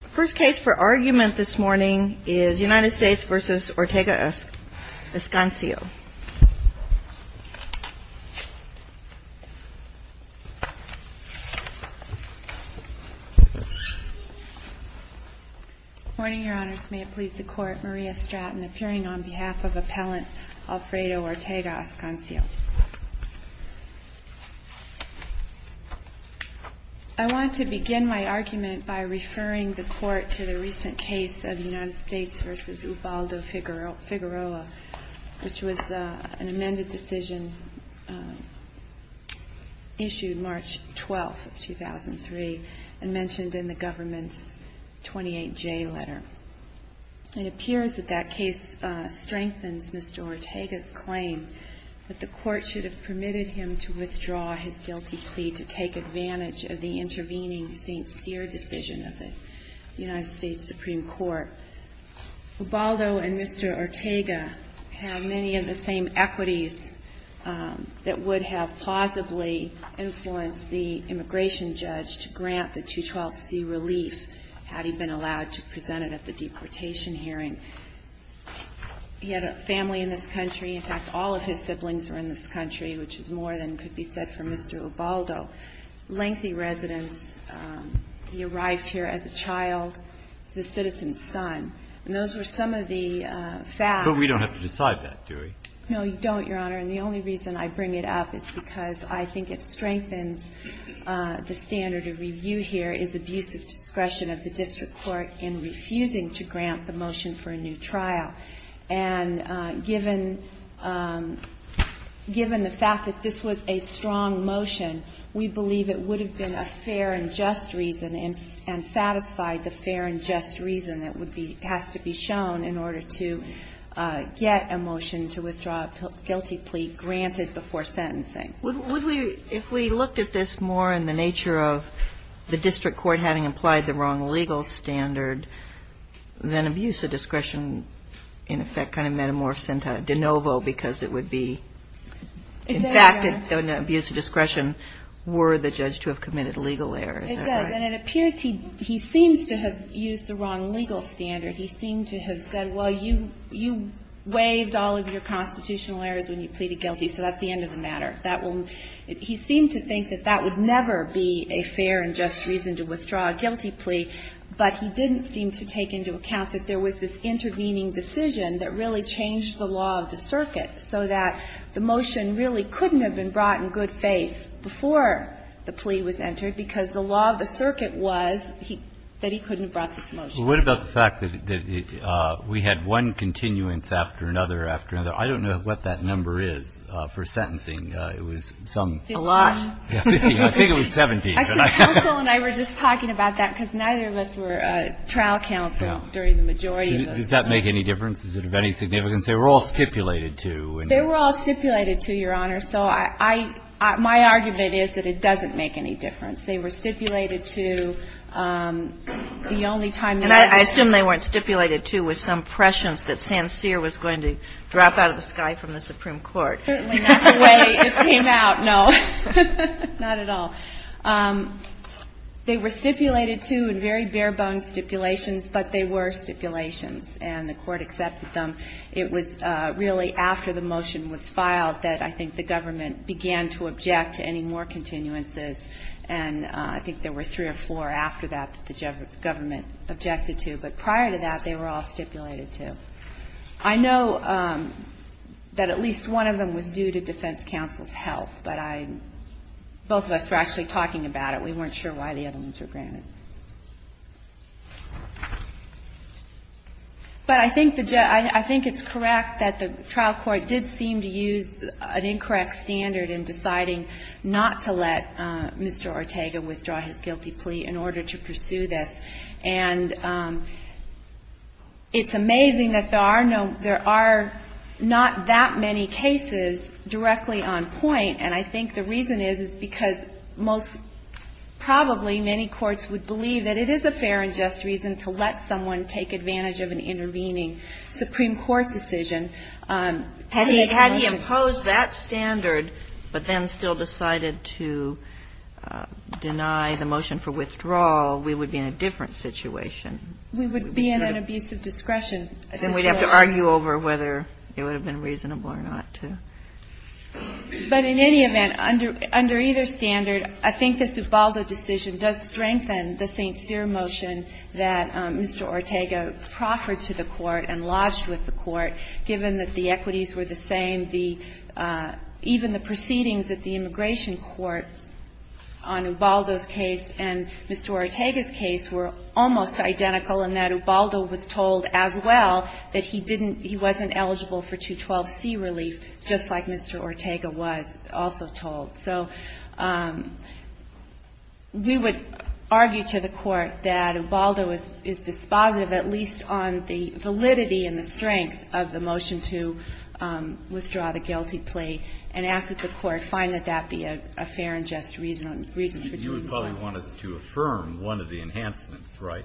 The first case for argument this morning is United States v. ORTEGA-ASCANIO Good morning, Your Honors. May it please the Court, Maria Stratton appearing on behalf of Appellant Alfredo Ortega-Ascanio. I want to begin my argument by referring the Court to the recent case of United States v. Ubaldo Figueroa, which was an amended decision issued March 12, 2003, and mentioned in the government's 28J letter. It appears that that case strengthens Mr. Ortega's claim that the Court should have permitted him to withdraw his guilty plea to take advantage of the intervening St. Cyr decision of the United States Supreme Court. Ubaldo and Mr. Ortega have many of the same equities that would have plausibly influenced the immigration judge to grant the 212C relief had he been allowed to present it at the deportation hearing. He had a family in this country, in fact, all of his siblings were in this country, which is more than could be said for Mr. Ubaldo. Lengthy residence, he arrived here as a child, as a citizen's son. And those were some of the facts. But we don't have to decide that, do we? No, you don't, Your Honor. And the only reason I bring it up is because I think it strengthens the standard of review here is abusive discretion of the district court in refusing to grant the motion for a new trial. And given the fact that this was a strong motion, we believe it would have been a fair and just reason and satisfied the fair and just reason that has to be shown in order to get a motion to withdraw a guilty plea granted before sentencing. If we looked at this more in the nature of the district court having implied the wrong legal standard, then abusive discretion, in effect, kind of metamorphs into de novo because it would be in fact, in abusive discretion, were the judge to have committed legal errors. It does, and it appears he seems to have used the wrong legal standard. He seemed to have said, well, you waived all of your constitutional errors when you pleaded guilty, so that's the end of the matter. That will he seemed to think that that would never be a fair and just reason to withdraw a guilty plea, but he didn't seem to take into account that there was this intervening decision that really changed the law of the circuit so that the motion really couldn't have been brought in good faith before the plea was entered because the law of the circuit was that he couldn't have brought this motion. Well, what about the fact that we had one continuance after another after another? I don't know what that number is for sentencing. It was some. A lot. I think it was 17. I think counsel and I were just talking about that because neither of us were trial counsel during the majority of those. Does that make any difference? Is it of any significance? They were all stipulated to. They were all stipulated to, Your Honor. So I, my argument is that it doesn't make any difference. They were stipulated to the only time. And I assume they weren't stipulated to with some prescience that Sancerre was going to drop out of the sky from the Supreme Court. Certainly not the way it came out. No, not at all. They were stipulated to in very bare bones stipulations, but they were stipulations and the court accepted them. It was really after the motion was filed that I think the government began to object to any more continuances. And I think there were three or four after that that the government objected to. But prior to that, they were all stipulated to. I know that at least one of them was due to defense counsel's help, but I, both of us were actually talking about it. We weren't sure why the other ones were granted. But I think the, I think it's correct that the trial court did seem to use an incorrect standard in deciding not to let Mr. Ortega withdraw his guilty plea in order to pursue this. And it's amazing that there are no, there are not that many cases directly on point. And I think the reason is, is because most probably many courts would believe that it is a fair and just reason to let someone take advantage of an intervening Supreme Court decision. Had he imposed that standard, but then still decided to deny the motion for withdrawal, we would be in a different situation. We would be in an abuse of discretion. Then we'd have to argue over whether it would have been reasonable or not to. But in any event, under either standard, I think this Ubaldo decision does strengthen the St. Cyr motion that Mr. Ortega proffered to the Court and lodged with the Court, given that the equities were the same, the, even the proceedings at the immigration court on Ubaldo's case and Mr. Ortega's case were almost identical, and that Ubaldo was told as well that he didn't, he wasn't eligible for 212C relief, just like Mr. Ortega was also told. So we would argue to the Court that Ubaldo is dispositive, at least on the validity and the strength of the motion to withdraw the guilty plea, and ask that the Court find that that be a fair and just reason for doing so. You would probably want us to affirm one of the enhancements, right?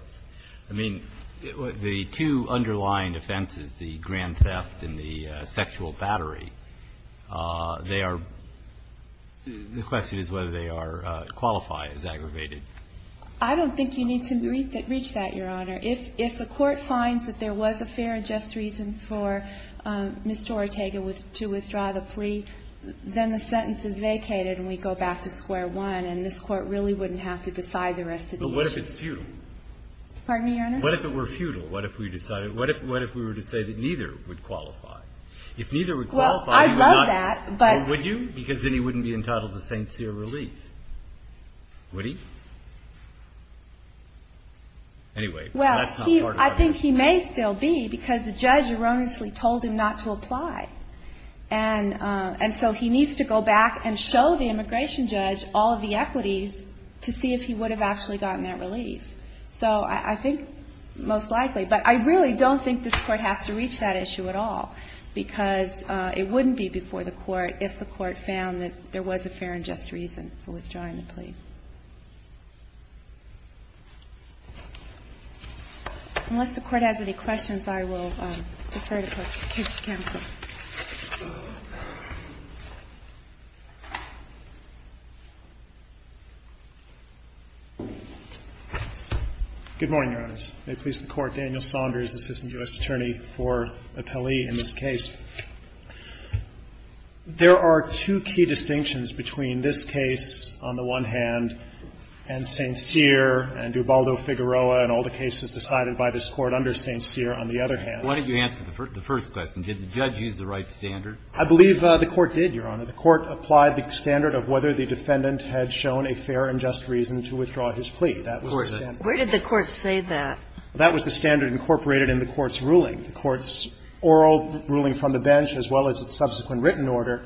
I mean, the two underlying offenses, the grand theft and the sexual battery, they are, the question is whether they are, qualify as aggravated. I don't think you need to reach that, Your Honor. If the Court finds that there was a fair and just reason for Mr. Ortega to withdraw the plea, then the sentence is vacated and we go back to square one, and this Court really wouldn't have to decide the rest of the motion. But what if it's futile? Pardon me, Your Honor? What if it were futile? What if we decided, what if we were to say that neither would qualify? If neither would qualify, you would not... Well, I'd love that, but... Would you? Because then he wouldn't be entitled to St. Cyr relief. Would he? Anyway, that's not part of our argument. Well, I think he may still be, because the judge erroneously told him not to apply. And so he needs to go back and show the immigration judge all of the equities to see if he would have actually gotten that relief. So I think most likely, but I really don't think this Court has to reach that issue at all, because it wouldn't be before the Court if the Court found that there was a fair and just reason for withdrawing the plea. Unless the Court has any questions, I will defer to Court Case Counsel. Good morning, Your Honors. May it please the Court, Daniel Saunders, Assistant U.S. Attorney for Appellee in this case. There are two key distinctions between this case on the one hand, and St. Cyr, and Dubaldo Figueroa, and all the cases decided by this Court under St. Cyr on the other hand. Why don't you answer the first question? Did the judge use the right standard? I believe the Court did, Your Honor. The Court applied the standard of whether the defendant had shown a fair and just reason to withdraw his plea. That was the standard. Where did the Court say that? That was the standard incorporated in the Court's ruling. The Court's oral ruling from the bench, as well as its subsequent written order,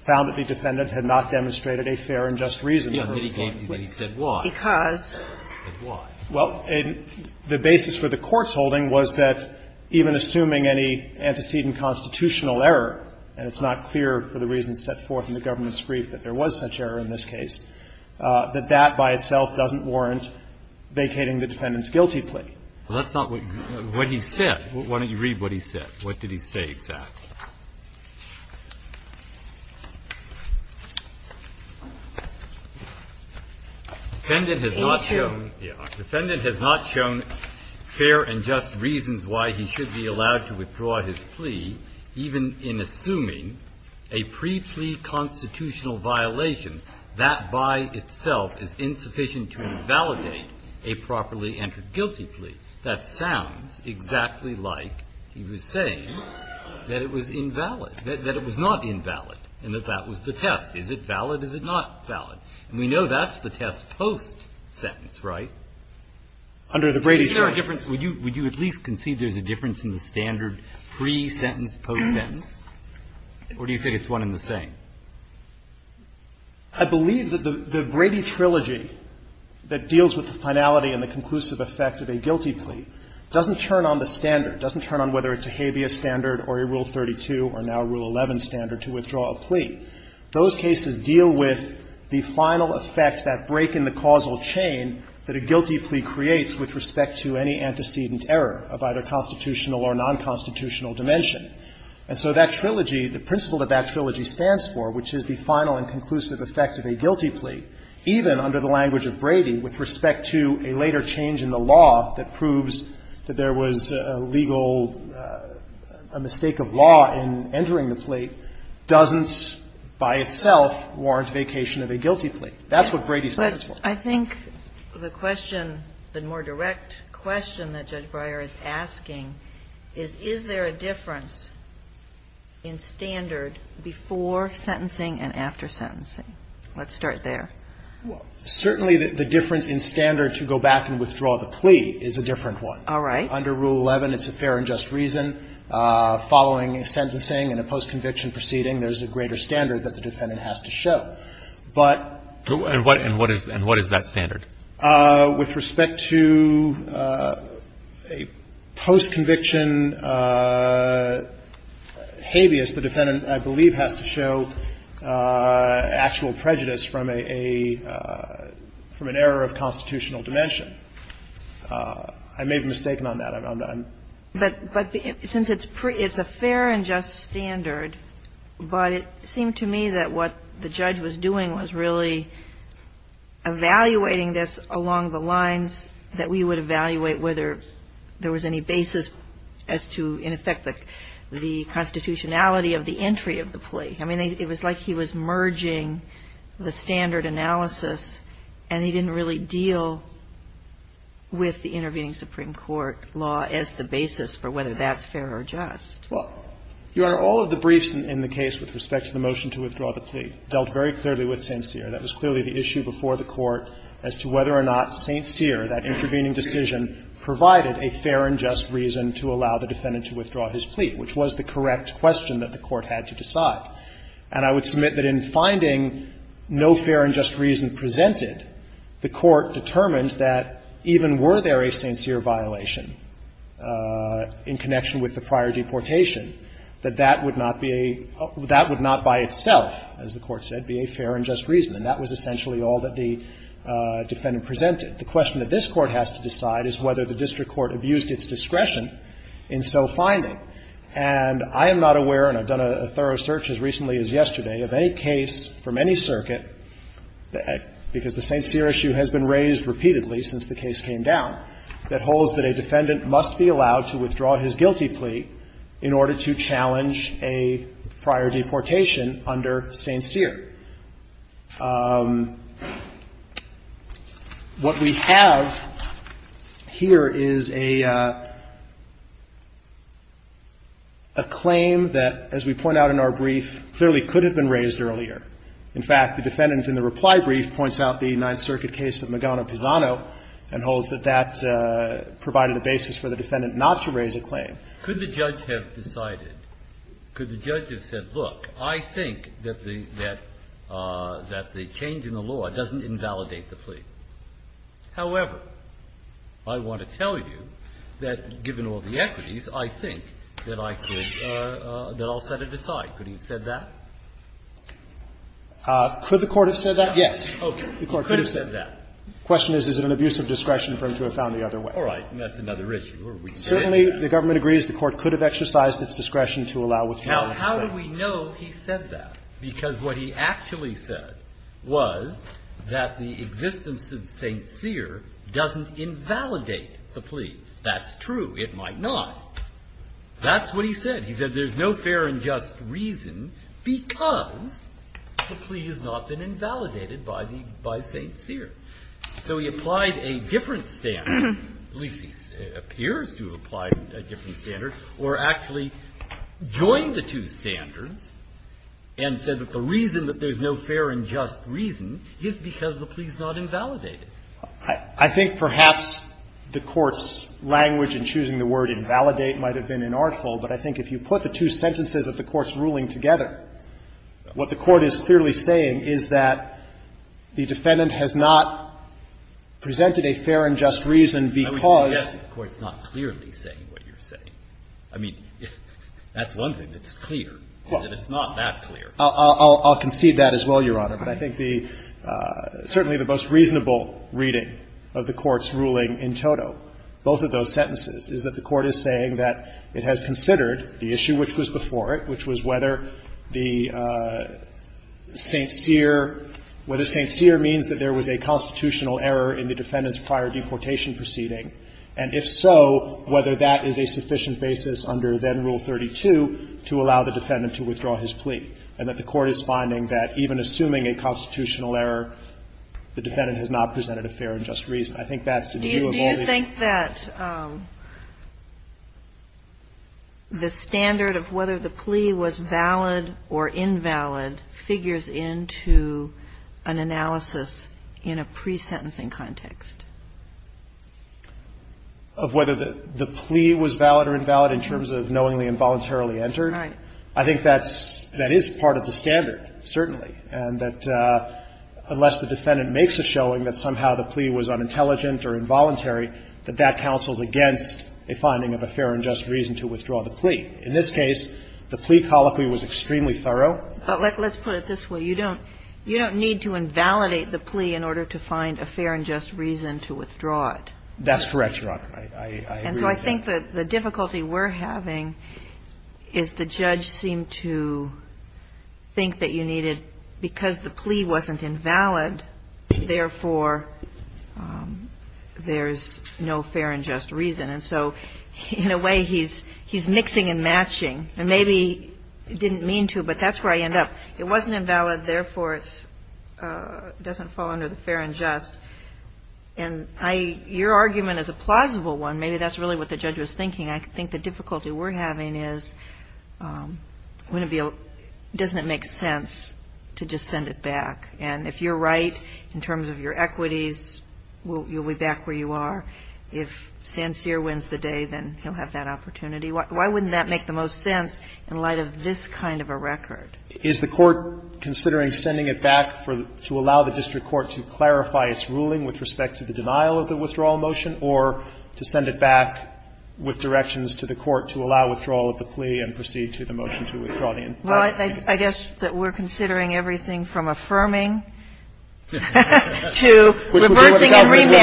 found that the defendant had not demonstrated a fair and just reason. Then he said why. Because. He said why. Well, the basis for the Court's holding was that even assuming any antecedent constitutional error, and it's not clear for the reasons set forth in the government's brief that there was such error in this case, that that by itself doesn't warrant vacating the defendant's guilty plea. Well, that's not what he said. Why don't you read what he said? What did he say exactly? The defendant has not shown. Yeah. The defendant has not shown fair and just reasons why he should be allowed to withdraw his plea, even in assuming a pre-plea constitutional violation. That by itself is insufficient to invalidate a properly entered guilty plea. That sounds exactly like he was saying that it was invalid, that it was not invalid and that that was the test. Is it valid? Is it not valid? And we know that's the test post-sentence, right? Under the Brady trilogy. Would you at least concede there's a difference in the standard pre-sentence, post-sentence? Or do you think it's one and the same? I believe that the Brady trilogy that deals with the finality and the conclusive effect of a guilty plea doesn't turn on the standard, doesn't turn on whether it's a habeas standard or a Rule 32 or now Rule 11 standard to withdraw a plea. Those cases deal with the final effect, that break in the causal chain that a guilty plea creates with respect to any antecedent error of either constitutional or nonconstitutional dimension. And so that trilogy, the principle that that trilogy stands for, which is the final and conclusive effect of a guilty plea, even under the language of Brady with respect to a later change in the law that proves that there was a legal, a mistake of law in entering the plea, doesn't by itself warrant vacation of a guilty plea. That's what Brady stands for. But I think the question, the more direct question that Judge Breyer is asking is, is there a difference in standard before sentencing and after sentencing? Let's start there. Well, certainly the difference in standard to go back and withdraw the plea is a different one. All right. Under Rule 11, it's a fair and just reason. Following a sentencing and a post-conviction proceeding, there's a greater standard that the defendant has to show. But what is that standard? With respect to a post-conviction habeas, the defendant, I believe, has to show actual prejudice from a, from an error of constitutional dimension. I may be mistaken on that. I'm not. But since it's a fair and just standard, but it seemed to me that what the judge was doing was really evaluating this along the lines that we would evaluate whether there was any basis as to, in effect, the constitutionality of the entry of the plea. I mean, it was like he was merging the standard analysis, and he didn't really deal with the intervening Supreme Court law as the basis for whether that's fair or just. Well, Your Honor, all of the briefs in the case with respect to the motion to withdraw the plea dealt very clearly with St. Cyr. That was clearly the issue before the Court as to whether or not St. Cyr, that intervening decision, provided a fair and just reason to allow the defendant to withdraw his plea, which was the correct question that the Court had to decide. And I would submit that in finding no fair and just reason presented, the Court determined that even were there a St. Cyr violation in connection with the prior deportation, it would not, as the Court said, be a fair and just reason. And that was essentially all that the defendant presented. The question that this Court has to decide is whether the district court abused its discretion in so finding. And I am not aware, and I've done a thorough search as recently as yesterday, of any case from any circuit, because the St. Cyr issue has been raised repeatedly since the case came down, that holds that a defendant must be allowed to withdraw his guilty plea in order to challenge a prior deportation under St. Cyr. What we have here is a claim that, as we point out in our brief, clearly could have been raised earlier. In fact, the defendant in the reply brief points out the Ninth Circuit case of Magano-Pisano and holds that that provided the basis for the defendant not to raise a claim. Could the judge have decided, could the judge have said, look, I think that the change in the law doesn't invalidate the plea. However, I want to tell you that, given all the equities, I think that I could – that I'll set it aside. Could he have said that? Could the Court have said that? Okay. The Court could have said that. The question is, is it an abuse of discretion for him to have found the other way? All right. And that's another issue. Certainly, the government agrees the Court could have exercised its discretion to allow withdrawal of the plea. Now, how do we know he said that? Because what he actually said was that the existence of St. Cyr doesn't invalidate the plea. That's true. It might not. That's what he said. He said there's no fair and just reason because the plea has not been invalidated by St. Cyr. So he applied a different standard, at least he appears to have applied a different standard, or actually joined the two standards and said that the reason that there's no fair and just reason is because the plea's not invalidated. I think perhaps the Court's language in choosing the word invalidate might have been inartful, but I think if you put the two sentences of the Court's ruling together, what the Court is clearly saying is that the defendant has not presented a fair and just reason because of the plea. I would suggest the Court's not clearly saying what you're saying. I mean, that's one thing that's clear, is that it's not that clear. I'll concede that as well, Your Honor. But I think the – certainly the most reasonable reading of the Court's ruling in toto, both of those sentences, is that the Court is saying that it has considered the issue which was before it, which was whether the St. Cyr – whether St. Cyr means that there was a constitutional error in the defendant's prior deportation proceeding, and if so, whether that is a sufficient basis under then Rule 32 to allow the defendant to withdraw his plea, and that the Court is finding that even assuming a constitutional error, the defendant has not presented a fair and just reason. I think that's the view of all these. Kagan. Do you think that the standard of whether the plea was valid or invalid figures into an analysis in a pre-sentencing context? Of whether the plea was valid or invalid in terms of knowingly and voluntarily entered? Right. I think that's – that is part of the standard, certainly, and that unless the defendant makes a showing that somehow the plea was unintelligent or involuntary, that that counsels against a finding of a fair and just reason to withdraw the plea. In this case, the plea colloquy was extremely thorough. But let's put it this way. You don't – you don't need to invalidate the plea in order to find a fair and just reason to withdraw it. That's correct, Your Honor. I agree with that. And so I think that the difficulty we're having is the judge seemed to think that because the plea wasn't invalid, therefore, there's no fair and just reason. And so in a way, he's mixing and matching. And maybe he didn't mean to, but that's where I end up. It wasn't invalid, therefore, it doesn't fall under the fair and just. And I – your argument is a plausible one. Maybe that's really what the judge was thinking. I think the difficulty we're having is wouldn't it be – doesn't it make sense to just send it back? And if you're right in terms of your equities, you'll be back where you are. If Sancier wins the day, then he'll have that opportunity. Why wouldn't that make the most sense in light of this kind of a record? Is the Court considering sending it back to allow the district court to clarify its ruling with respect to the denial of the withdrawal motion, or to send it back with directions to the Court to allow withdrawal of the plea and proceed to the motion to withdraw the information? Well, I guess that we're considering everything from affirming to reversing and remanding. Which would be what the government would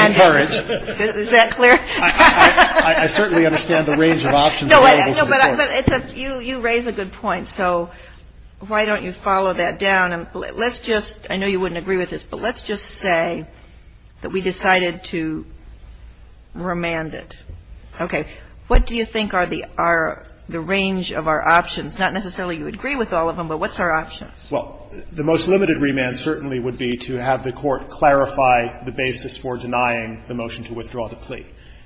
encourage. Is that clear? I certainly understand the range of options available to the Court. No, but it's a – you raise a good point. So why don't you follow that down? Let's just – I know you wouldn't agree with this, but let's just say that we decided to remand it. Okay. What do you think are the range of our options? Not necessarily you would agree with all of them, but what's our options? Well, the most limited remand certainly would be to have the Court clarify the basis for denying the motion to withdraw the plea.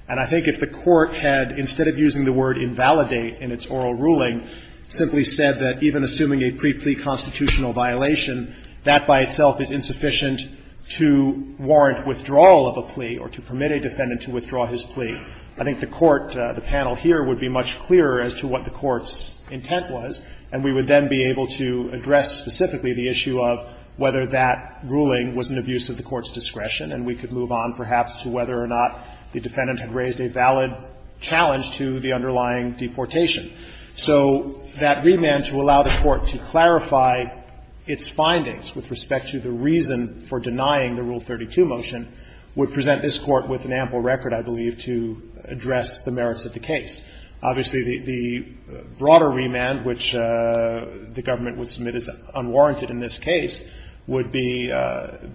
And I think if the Court had, instead of using the word invalidate in its oral ruling, simply said that even assuming a pre-plea constitutional violation, that by itself is insufficient to warrant withdrawal of a plea or to permit a defendant to withdraw his plea, I think the Court, the panel here, would be much clearer as to what the Court's intent was, and we would then be able to address specifically the issue of whether that ruling was an abuse of the Court's discretion, and we could move on perhaps to whether or not the defendant had raised a valid challenge to the underlying deportation. So that remand to allow the Court to clarify its findings with respect to the reason for denying the Rule 32 motion would present this Court with an ample record, I believe, to address the merits of the case. Obviously, the broader remand, which the government would submit as unwarranted in this case, would be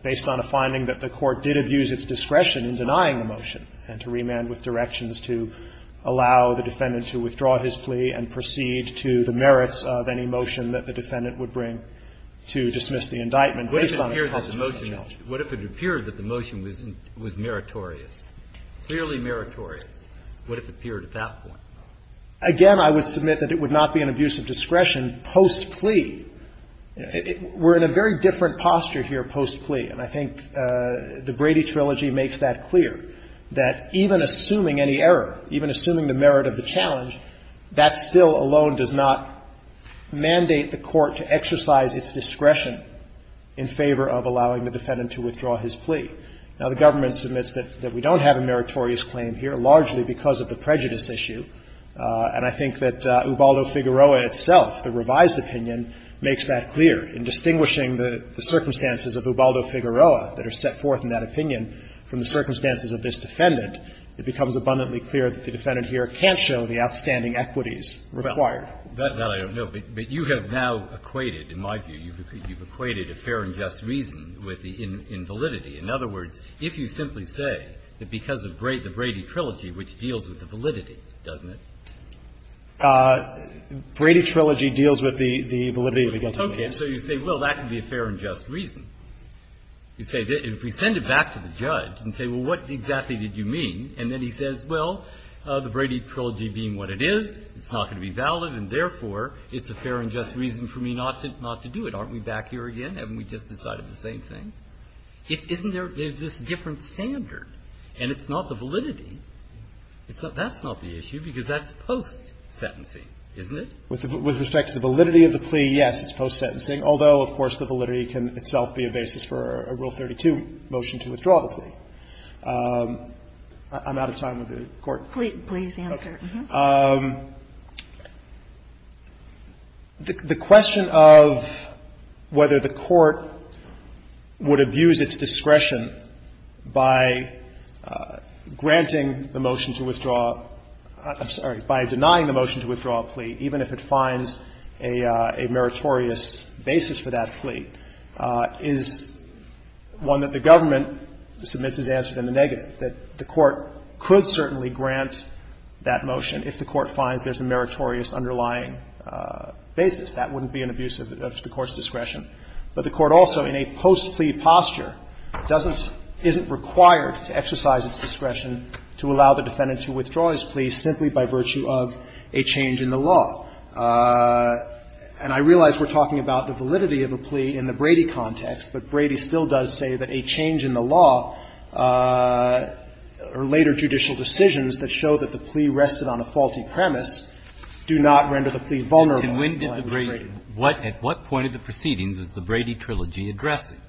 based on a finding that the Court did abuse its discretion in denying the motion and to remand with directions to allow the defendant to withdraw his plea and proceed to the merits of any motion that the defendant would bring to dismiss the indictment based on a constitutional challenge. What if it appeared that the motion was meritorious, clearly meritorious? What if it appeared at that point? Again, I would submit that it would not be an abuse of discretion post-plea. We're in a very different posture here post-plea, and I think the Brady Trilogy makes that clear, that even assuming any error, even assuming the merit of the challenge, that still alone does not mandate the Court to exercise its discretion in favor of allowing the defendant to withdraw his plea. Now, the government submits that we don't have a meritorious claim here, largely because of the prejudice issue. And I think that Ubaldo-Figueroa itself, the revised opinion, makes that clear. In distinguishing the circumstances of Ubaldo-Figueroa that are set forth in that opinion from the circumstances of this defendant, it becomes abundantly clear that the defendant here can't show the outstanding equities required. Well, that I don't know. But you have now equated, in my view, you've equated a fair and just reason with the invalidity. In other words, if you simply say that because of the Brady Trilogy, which deals with the validity, doesn't it? Brady Trilogy deals with the validity of the guilty case. Okay. So you say, well, that can be a fair and just reason. You say that if we send it back to the judge and say, well, what exactly did you mean? And then he says, well, the Brady Trilogy being what it is, it's not going to be valid, and therefore, it's a fair and just reason for me not to do it. Aren't we back here again? Haven't we just decided the same thing? Isn't there this different standard? And it's not the validity. That's not the issue, because that's post-sentencing, isn't it? With respect to the validity of the plea, yes, it's post-sentencing, although, of course, the validity can itself be a basis for a Rule 32 motion to withdraw the plea. I'm out of time with the Court. Please answer. The question of whether the Court would abuse its discretion by granting the motion to withdraw the plea, I'm sorry, by denying the motion to withdraw the plea, even if it finds a meritorious basis for that plea, is one that the government submits as answered in the negative, that the Court could certainly grant that motion if the Court finds there's a meritorious underlying basis. That wouldn't be an abuse of the Court's discretion. But the Court also, in a post-plea posture, doesn't – isn't required to exercise its discretion to allow the defendant to withdraw his plea simply by virtue of a change in the law. And I realize we're talking about the validity of a plea in the Brady context, but Brady still does say that a change in the law or later judicial decisions that show that the plea rested on a faulty premise do not render the plea vulnerable in language of Brady. At what point of the proceedings is the Brady Trilogy addressing?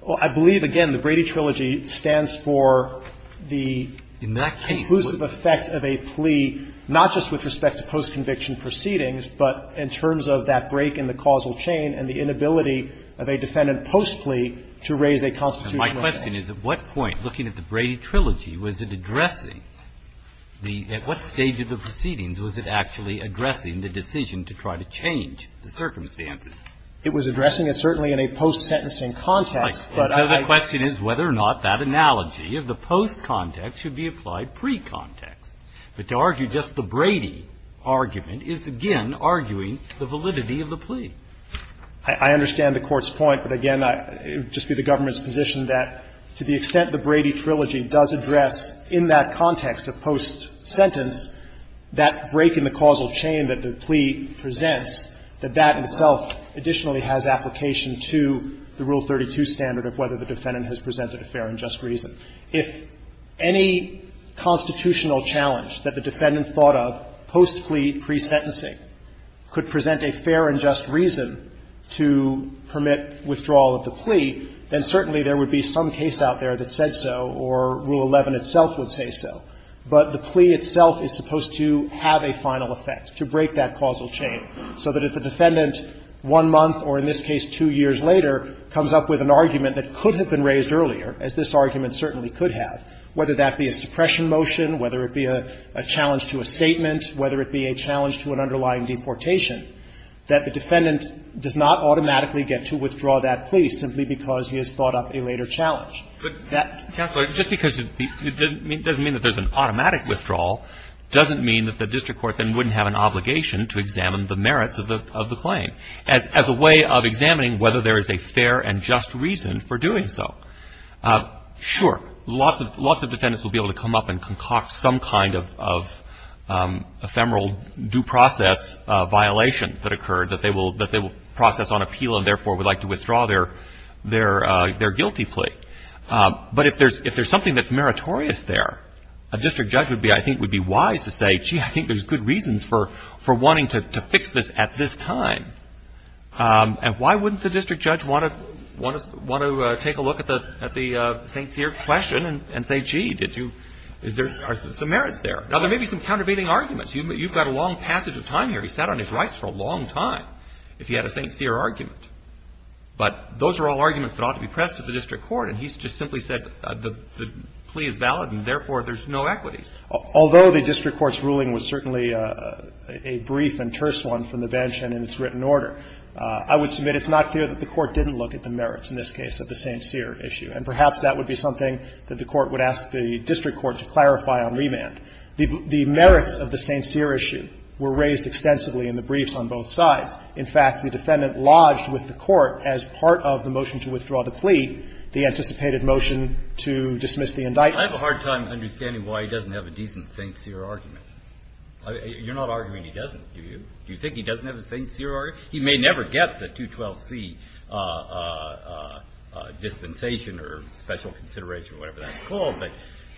Well, I believe, again, the Brady Trilogy stands for the conclusive effects of a plea, not just with respect to post-conviction proceedings, but in terms of that break in the causal chain and the inability of a defendant post-plea to raise a constitutional claim. My question is, at what point, looking at the Brady Trilogy, was it addressing the – at what stage of the proceedings was it actually addressing the decision to try to change the circumstances? It was addressing it certainly in a post-sentencing context, but I – So the question is whether or not that analogy of the post-context should be applied pre-context. But to argue just the Brady argument is, again, arguing the validity of the plea. I understand the Court's point, but again, it would just be the government's position that to the extent the Brady Trilogy does address in that context of post-sentence that break in the causal chain that the plea presents, that that itself additionally has application to the Rule 32 standard of whether the defendant has presented a fair and just reason. If any constitutional challenge that the defendant thought of post-plea pre-sentencing could present a fair and just reason to permit withdrawal of the plea, then certainly there would be some case out there that said so or Rule 11 itself would say so. But the plea itself is supposed to have a final effect, to break that causal chain, so that if the defendant one month or in this case two years later comes up with an argument that could have been raised earlier, as this argument certainly could have, whether that be a suppression motion, whether it be a challenge to a statement, whether it be a challenge to an underlying deportation, that the defendant does not automatically get to withdraw that plea simply because he has thought up a later challenge. But that — But, Counselor, just because it doesn't mean that there's an automatic withdrawal doesn't mean that the district court then wouldn't have an obligation to examine the merits of the claim as a way of examining whether there is a fair and just reason for doing so. Sure, lots of defendants will be able to come up and concoct some kind of ephemeral due process violation that occurred that they will process on appeal and therefore would like to withdraw their guilty plea. But if there's something that's meritorious there, a district judge I think would be wise to say, gee, I think there's good reasons for wanting to fix this at this time. And why wouldn't the district judge want to take a look at the St. Cyr question and say, gee, did you — are there some merits there? Now, there may be some countervailing arguments. You've got a long passage of time here. He sat on his rights for a long time if he had a St. Cyr argument. But those are all arguments that ought to be pressed to the district court, and he's just simply said the plea is valid and therefore there's no equities. Although the district court's ruling was certainly a brief and terse one from the bench and in its written order, I would submit it's not clear that the Court didn't look at the merits in this case of the St. Cyr issue. And perhaps that would be something that the Court would ask the district court to clarify on remand. The merits of the St. Cyr issue were raised extensively in the briefs on both sides. In fact, the defendant lodged with the Court as part of the motion to withdraw the plea the anticipated motion to dismiss the indictment. Breyer, I have a hard time understanding why he doesn't have a decent St. Cyr argument. You're not arguing he doesn't, do you? Do you think he doesn't have a St. Cyr argument? He may never get the 212C dispensation or special consideration or whatever that's called,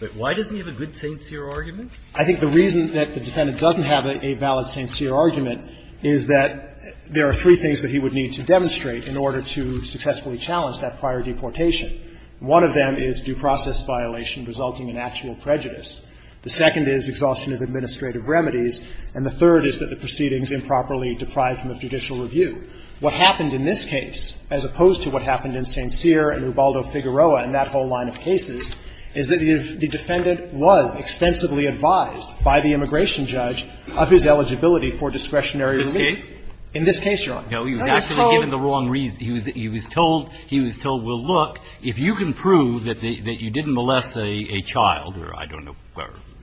but why doesn't he have a good St. Cyr argument? I think the reason that the defendant doesn't have a valid St. Cyr argument is that there are three things that he would need to demonstrate in order to successfully challenge that prior deportation. One of them is due process violation resulting in actual prejudice. The second is exhaustion of administrative remedies. And the third is that the proceedings improperly deprived him of judicial review. What happened in this case, as opposed to what happened in St. Cyr and Rubaldo Figueroa and that whole line of cases, is that the defendant was extensively advised by the immigration judge of his eligibility for discretionary relief. In this case? In this case, Your Honor. No, he was actually given the wrong reason. He was told, he was told, well, look, if you can prove that you didn't molest a child or I don't know,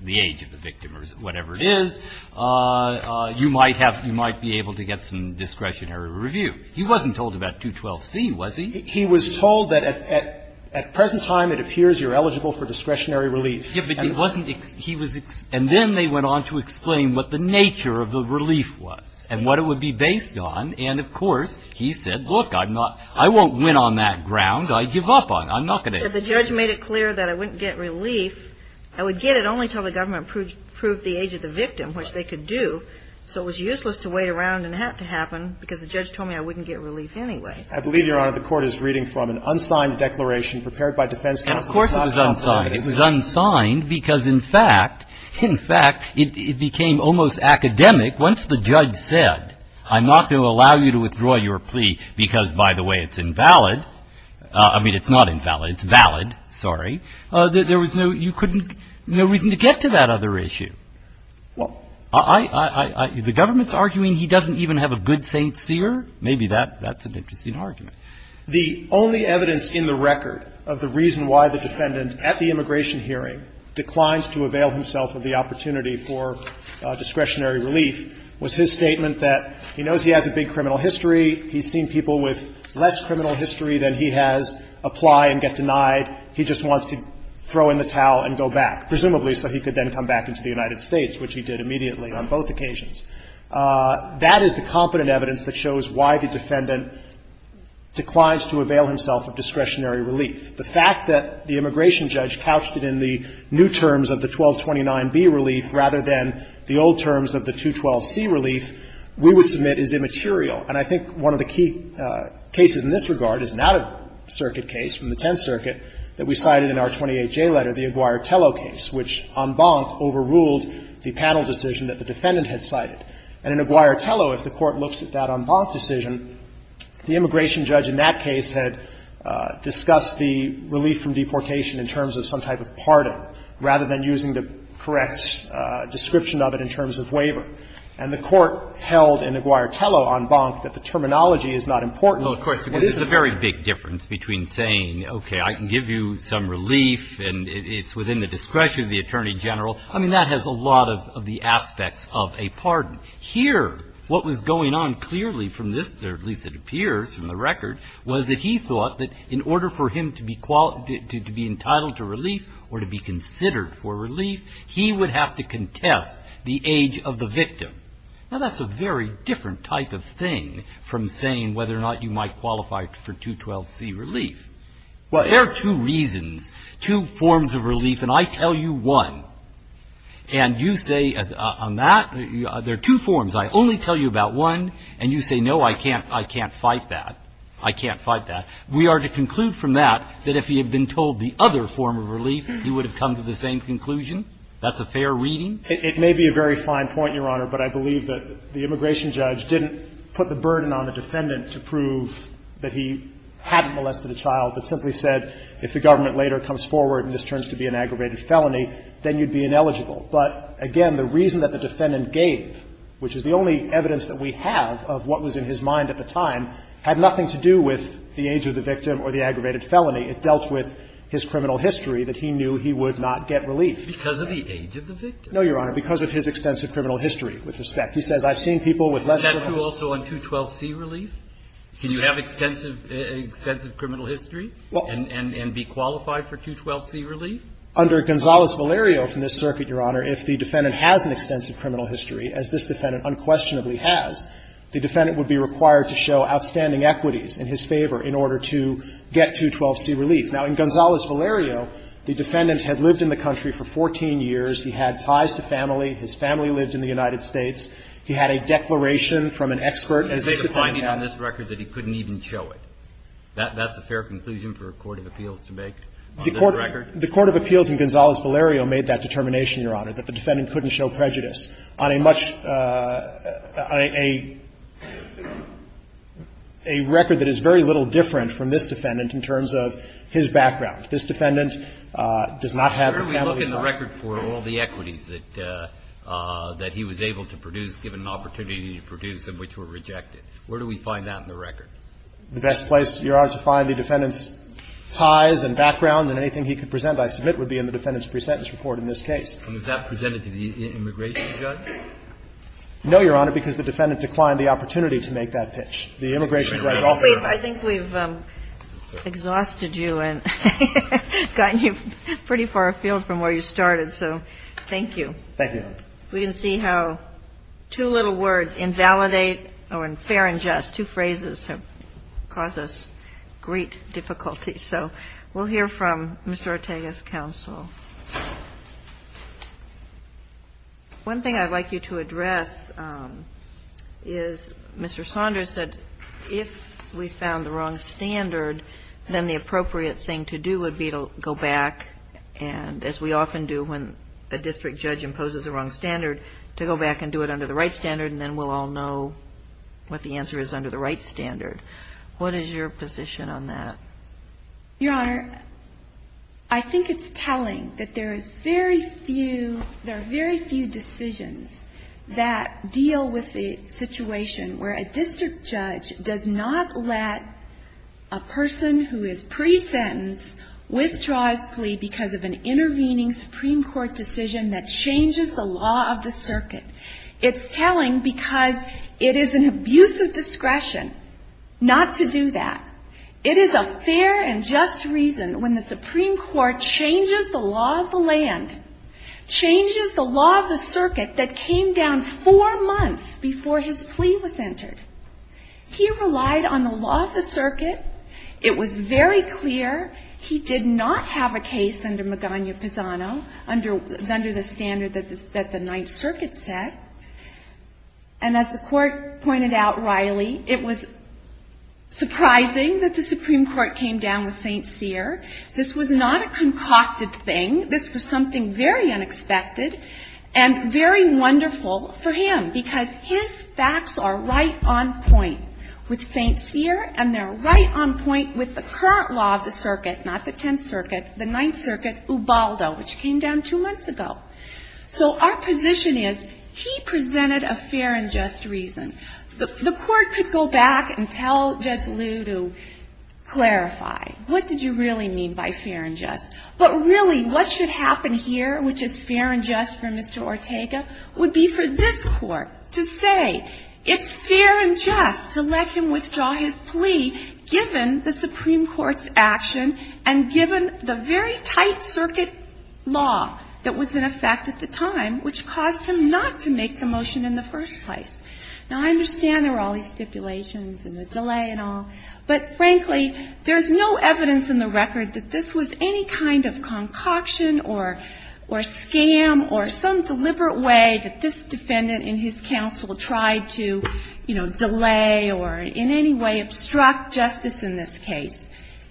the age of the victim or whatever it is, you might have, you might be able to get some discretionary review. He wasn't told about 212C, was he? He was told that at present time it appears you're eligible for discretionary relief. Yeah, but it wasn't, he was, and then they went on to explain what the nature of the relief was and what it would be based on. And, of course, he said, look, I'm not, I won't win on that ground. I give up on it. I'm not going to. The judge made it clear that I wouldn't get relief. I would get it only until the government proved the age of the victim, which they could do, so it was useless to wait around and have it happen because the judge told me I wouldn't get relief anyway. I believe, Your Honor, the Court is reading from an unsigned declaration prepared by defense counsel. Of course it was unsigned. It was unsigned because, in fact, in fact, it became almost academic once the judge said, I'm not going to allow you to withdraw your plea because, by the way, it's invalid. I mean, it's not invalid. It's valid. Sorry. There was no, you couldn't, no reason to get to that other issue. Well, I, I, the government's arguing he doesn't even have a good Saint Seer. Maybe that, that's an interesting argument. The only evidence in the record of the reason why the defendant, at the immigration hearing, declines to avail himself of the opportunity for discretionary relief was his statement that he knows he has a big criminal history. He's seen people with less criminal history than he has apply and get denied. He just wants to throw in the towel and go back, presumably so he could then come back into the United States, which he did immediately on both occasions. That is the competent evidence that shows why the defendant declines to avail himself of discretionary relief. The fact that the immigration judge couched it in the new terms of the 1229b relief rather than the old terms of the 212c relief we would submit is immaterial. And I think one of the key cases in this regard is an out-of-circuit case from the Tenth Circuit that we cited in our 28J letter, the Aguirre-Tello case, which en banc overruled the panel decision that the defendant had cited. And in Aguirre-Tello, if the Court looks at that en banc decision, the immigration judge in that case had discussed the relief from deportation in terms of some type of pardon, rather than using the correct description of it in terms of waiver. And the Court held in Aguirre-Tello en banc that the terminology is not important. What is it? Well, of course, because there's a very big difference between saying, okay, I can give you some relief and it's within the discretion of the Attorney General. I mean, that has a lot of the aspects of a pardon. Here, what was going on clearly from this, or at least it appears from the record, was that he thought that in order for him to be entitled to relief or to be considered for relief, he would have to contest the age of the victim. Now, that's a very different type of thing from saying whether or not you might qualify for 212C relief. Well, there are two reasons, two forms of relief, and I tell you one. And you say, on that, there are two forms. I only tell you about one, and you say, no, I can't fight that. I can't fight that. We are to conclude from that that if he had been told the other form of relief, he would have come to the same conclusion. That's a fair reading. It may be a very fine point, Your Honor, but I believe that the immigration judge didn't put the burden on the defendant to prove that he hadn't molested a child, but simply said if the government later comes forward and this turns to be an aggravated felony, then you'd be ineligible. But again, the reason that the defendant gave, which is the only evidence that we have of what was in his mind at the time, had nothing to do with the age of the victim or the aggravated felony. It dealt with his criminal history that he knew he would not get relief. Because of the age of the victim? No, Your Honor. Because of his extensive criminal history, with respect. He says, I've seen people with less than 12 years. Is that true also on 212C relief? Can you have extensive criminal history and be qualified for 212C relief? Under Gonzales-Valerio from this circuit, Your Honor, if the defendant has an extensive criminal history, as this defendant unquestionably has, the defendant would be required to show outstanding equities in his favor in order to get 212C relief. Now, in Gonzales-Valerio, the defendant had lived in the country for 14 years. He had ties to family. His family lived in the United States. He had a declaration from an expert. He made a finding on this record that he couldn't even show it. That's a fair conclusion for a court of appeals to make on this record? The court of appeals in Gonzales-Valerio made that determination, Your Honor, that the defendant couldn't show prejudice on a much – on a record that is very little different from this defendant in terms of his background. This defendant does not have a family. Where do we look in the record for all the equities that he was able to produce, given an opportunity to produce, and which were rejected? Where do we find that in the record? The best place, Your Honor, to find the defendant's ties and background and anything he could present, I submit, would be in the defendant's presentence report in this case, which you have presented to the immigration judge? No, Your Honor, because the defendant declined the opportunity to make that pitch. The immigration judge offered it. We've – I think we've exhausted you and gotten you pretty far afield from where you started, so thank you. Thank you, Your Honor. We can see how two little words, invalidate or unfair in jest, two phrases have caused us great difficulty. So we'll hear from Mr. Ortega's counsel. One thing I'd like you to address is Mr. Saunders said if we found the wrong standard, then the appropriate thing to do would be to go back and, as we often do when a district judge imposes the wrong standard, to go back and do it under the right standard, and then we'll all know what the answer is under the right standard. What is your position on that? Your Honor, I think it's telling that there is very few – there are very few decisions that deal with the situation where a district judge does not let a person who is pre-sentenced withdraw his plea because of an intervening Supreme Court decision that changes the law of the circuit. It's telling because it is an abuse of discretion not to do that. It is a fair and just reason when the Supreme Court changes the law of the land, changes the law of the circuit that came down four months before his plea was entered. He relied on the law of the circuit. It was very clear he did not have a case under Megania Pisano, under the standard that the Ninth Circuit set. And as the Court pointed out, Riley, it was surprising that the Supreme Court came down with St. Cyr. This was not a concocted thing. This was something very unexpected and very wonderful for him because his facts are right on point with St. Cyr, and they're right on point with the current law of the circuit, not the Tenth Circuit, the Ninth Circuit, Ubaldo, which came down two months ago. So our position is he presented a fair and just reason. The Court could go back and tell Judge Liu to clarify, what did you really mean by fair and just? But really what should happen here, which is fair and just for Mr. Ortega, would be for this Court to say it's fair and just to let him withdraw his plea given the Supreme Court decision. Now, I understand there were all these stipulations and the delay and all, but frankly, there's no evidence in the record that this was any kind of concoction or scam or some deliberate way that this defendant in his counsel tried to, you know, delay or in any way obstruct justice in this case.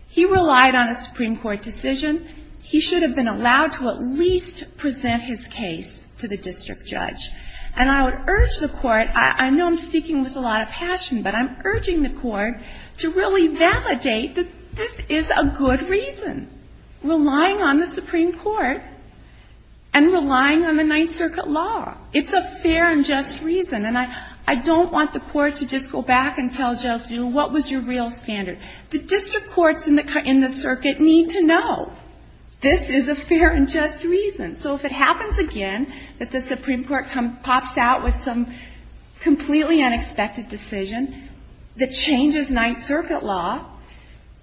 He relied on a Supreme Court decision. He should have been allowed to at least present his case to the district judge. And I would urge the Court, I know I'm speaking with a lot of passion, but I'm urging the Court to really validate that this is a good reason, relying on the Supreme Court and relying on the Ninth Circuit law. It's a fair and just reason. And I don't want the Court to just go back and tell Judge Liu what was your real standard. The district courts in the circuit need to know this is a fair and just reason. So if it happens again that the Supreme Court pops out with some completely unexpected decision that changes Ninth Circuit law,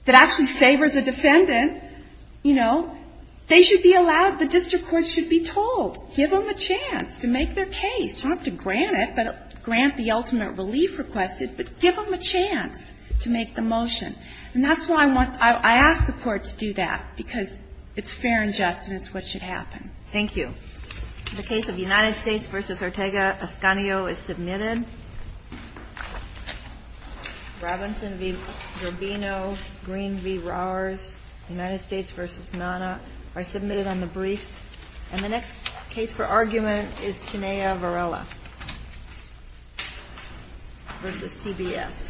that actually favors a defendant, you know, they should be allowed, the district courts should be told, give them a chance to make their case. You don't have to grant it, grant the ultimate relief requested, but give them a chance to make the motion. And that's why I want to ask the Court to do that, because it's fair and just and it's what should happen. Thank you. The case of United States v. Ortega-Escanio is submitted. Robinson v. Gervino, Green v. Rowers, United States v. Nana are submitted on the briefs. And the next case for argument is Cinea Varela v. CBS. Thank you.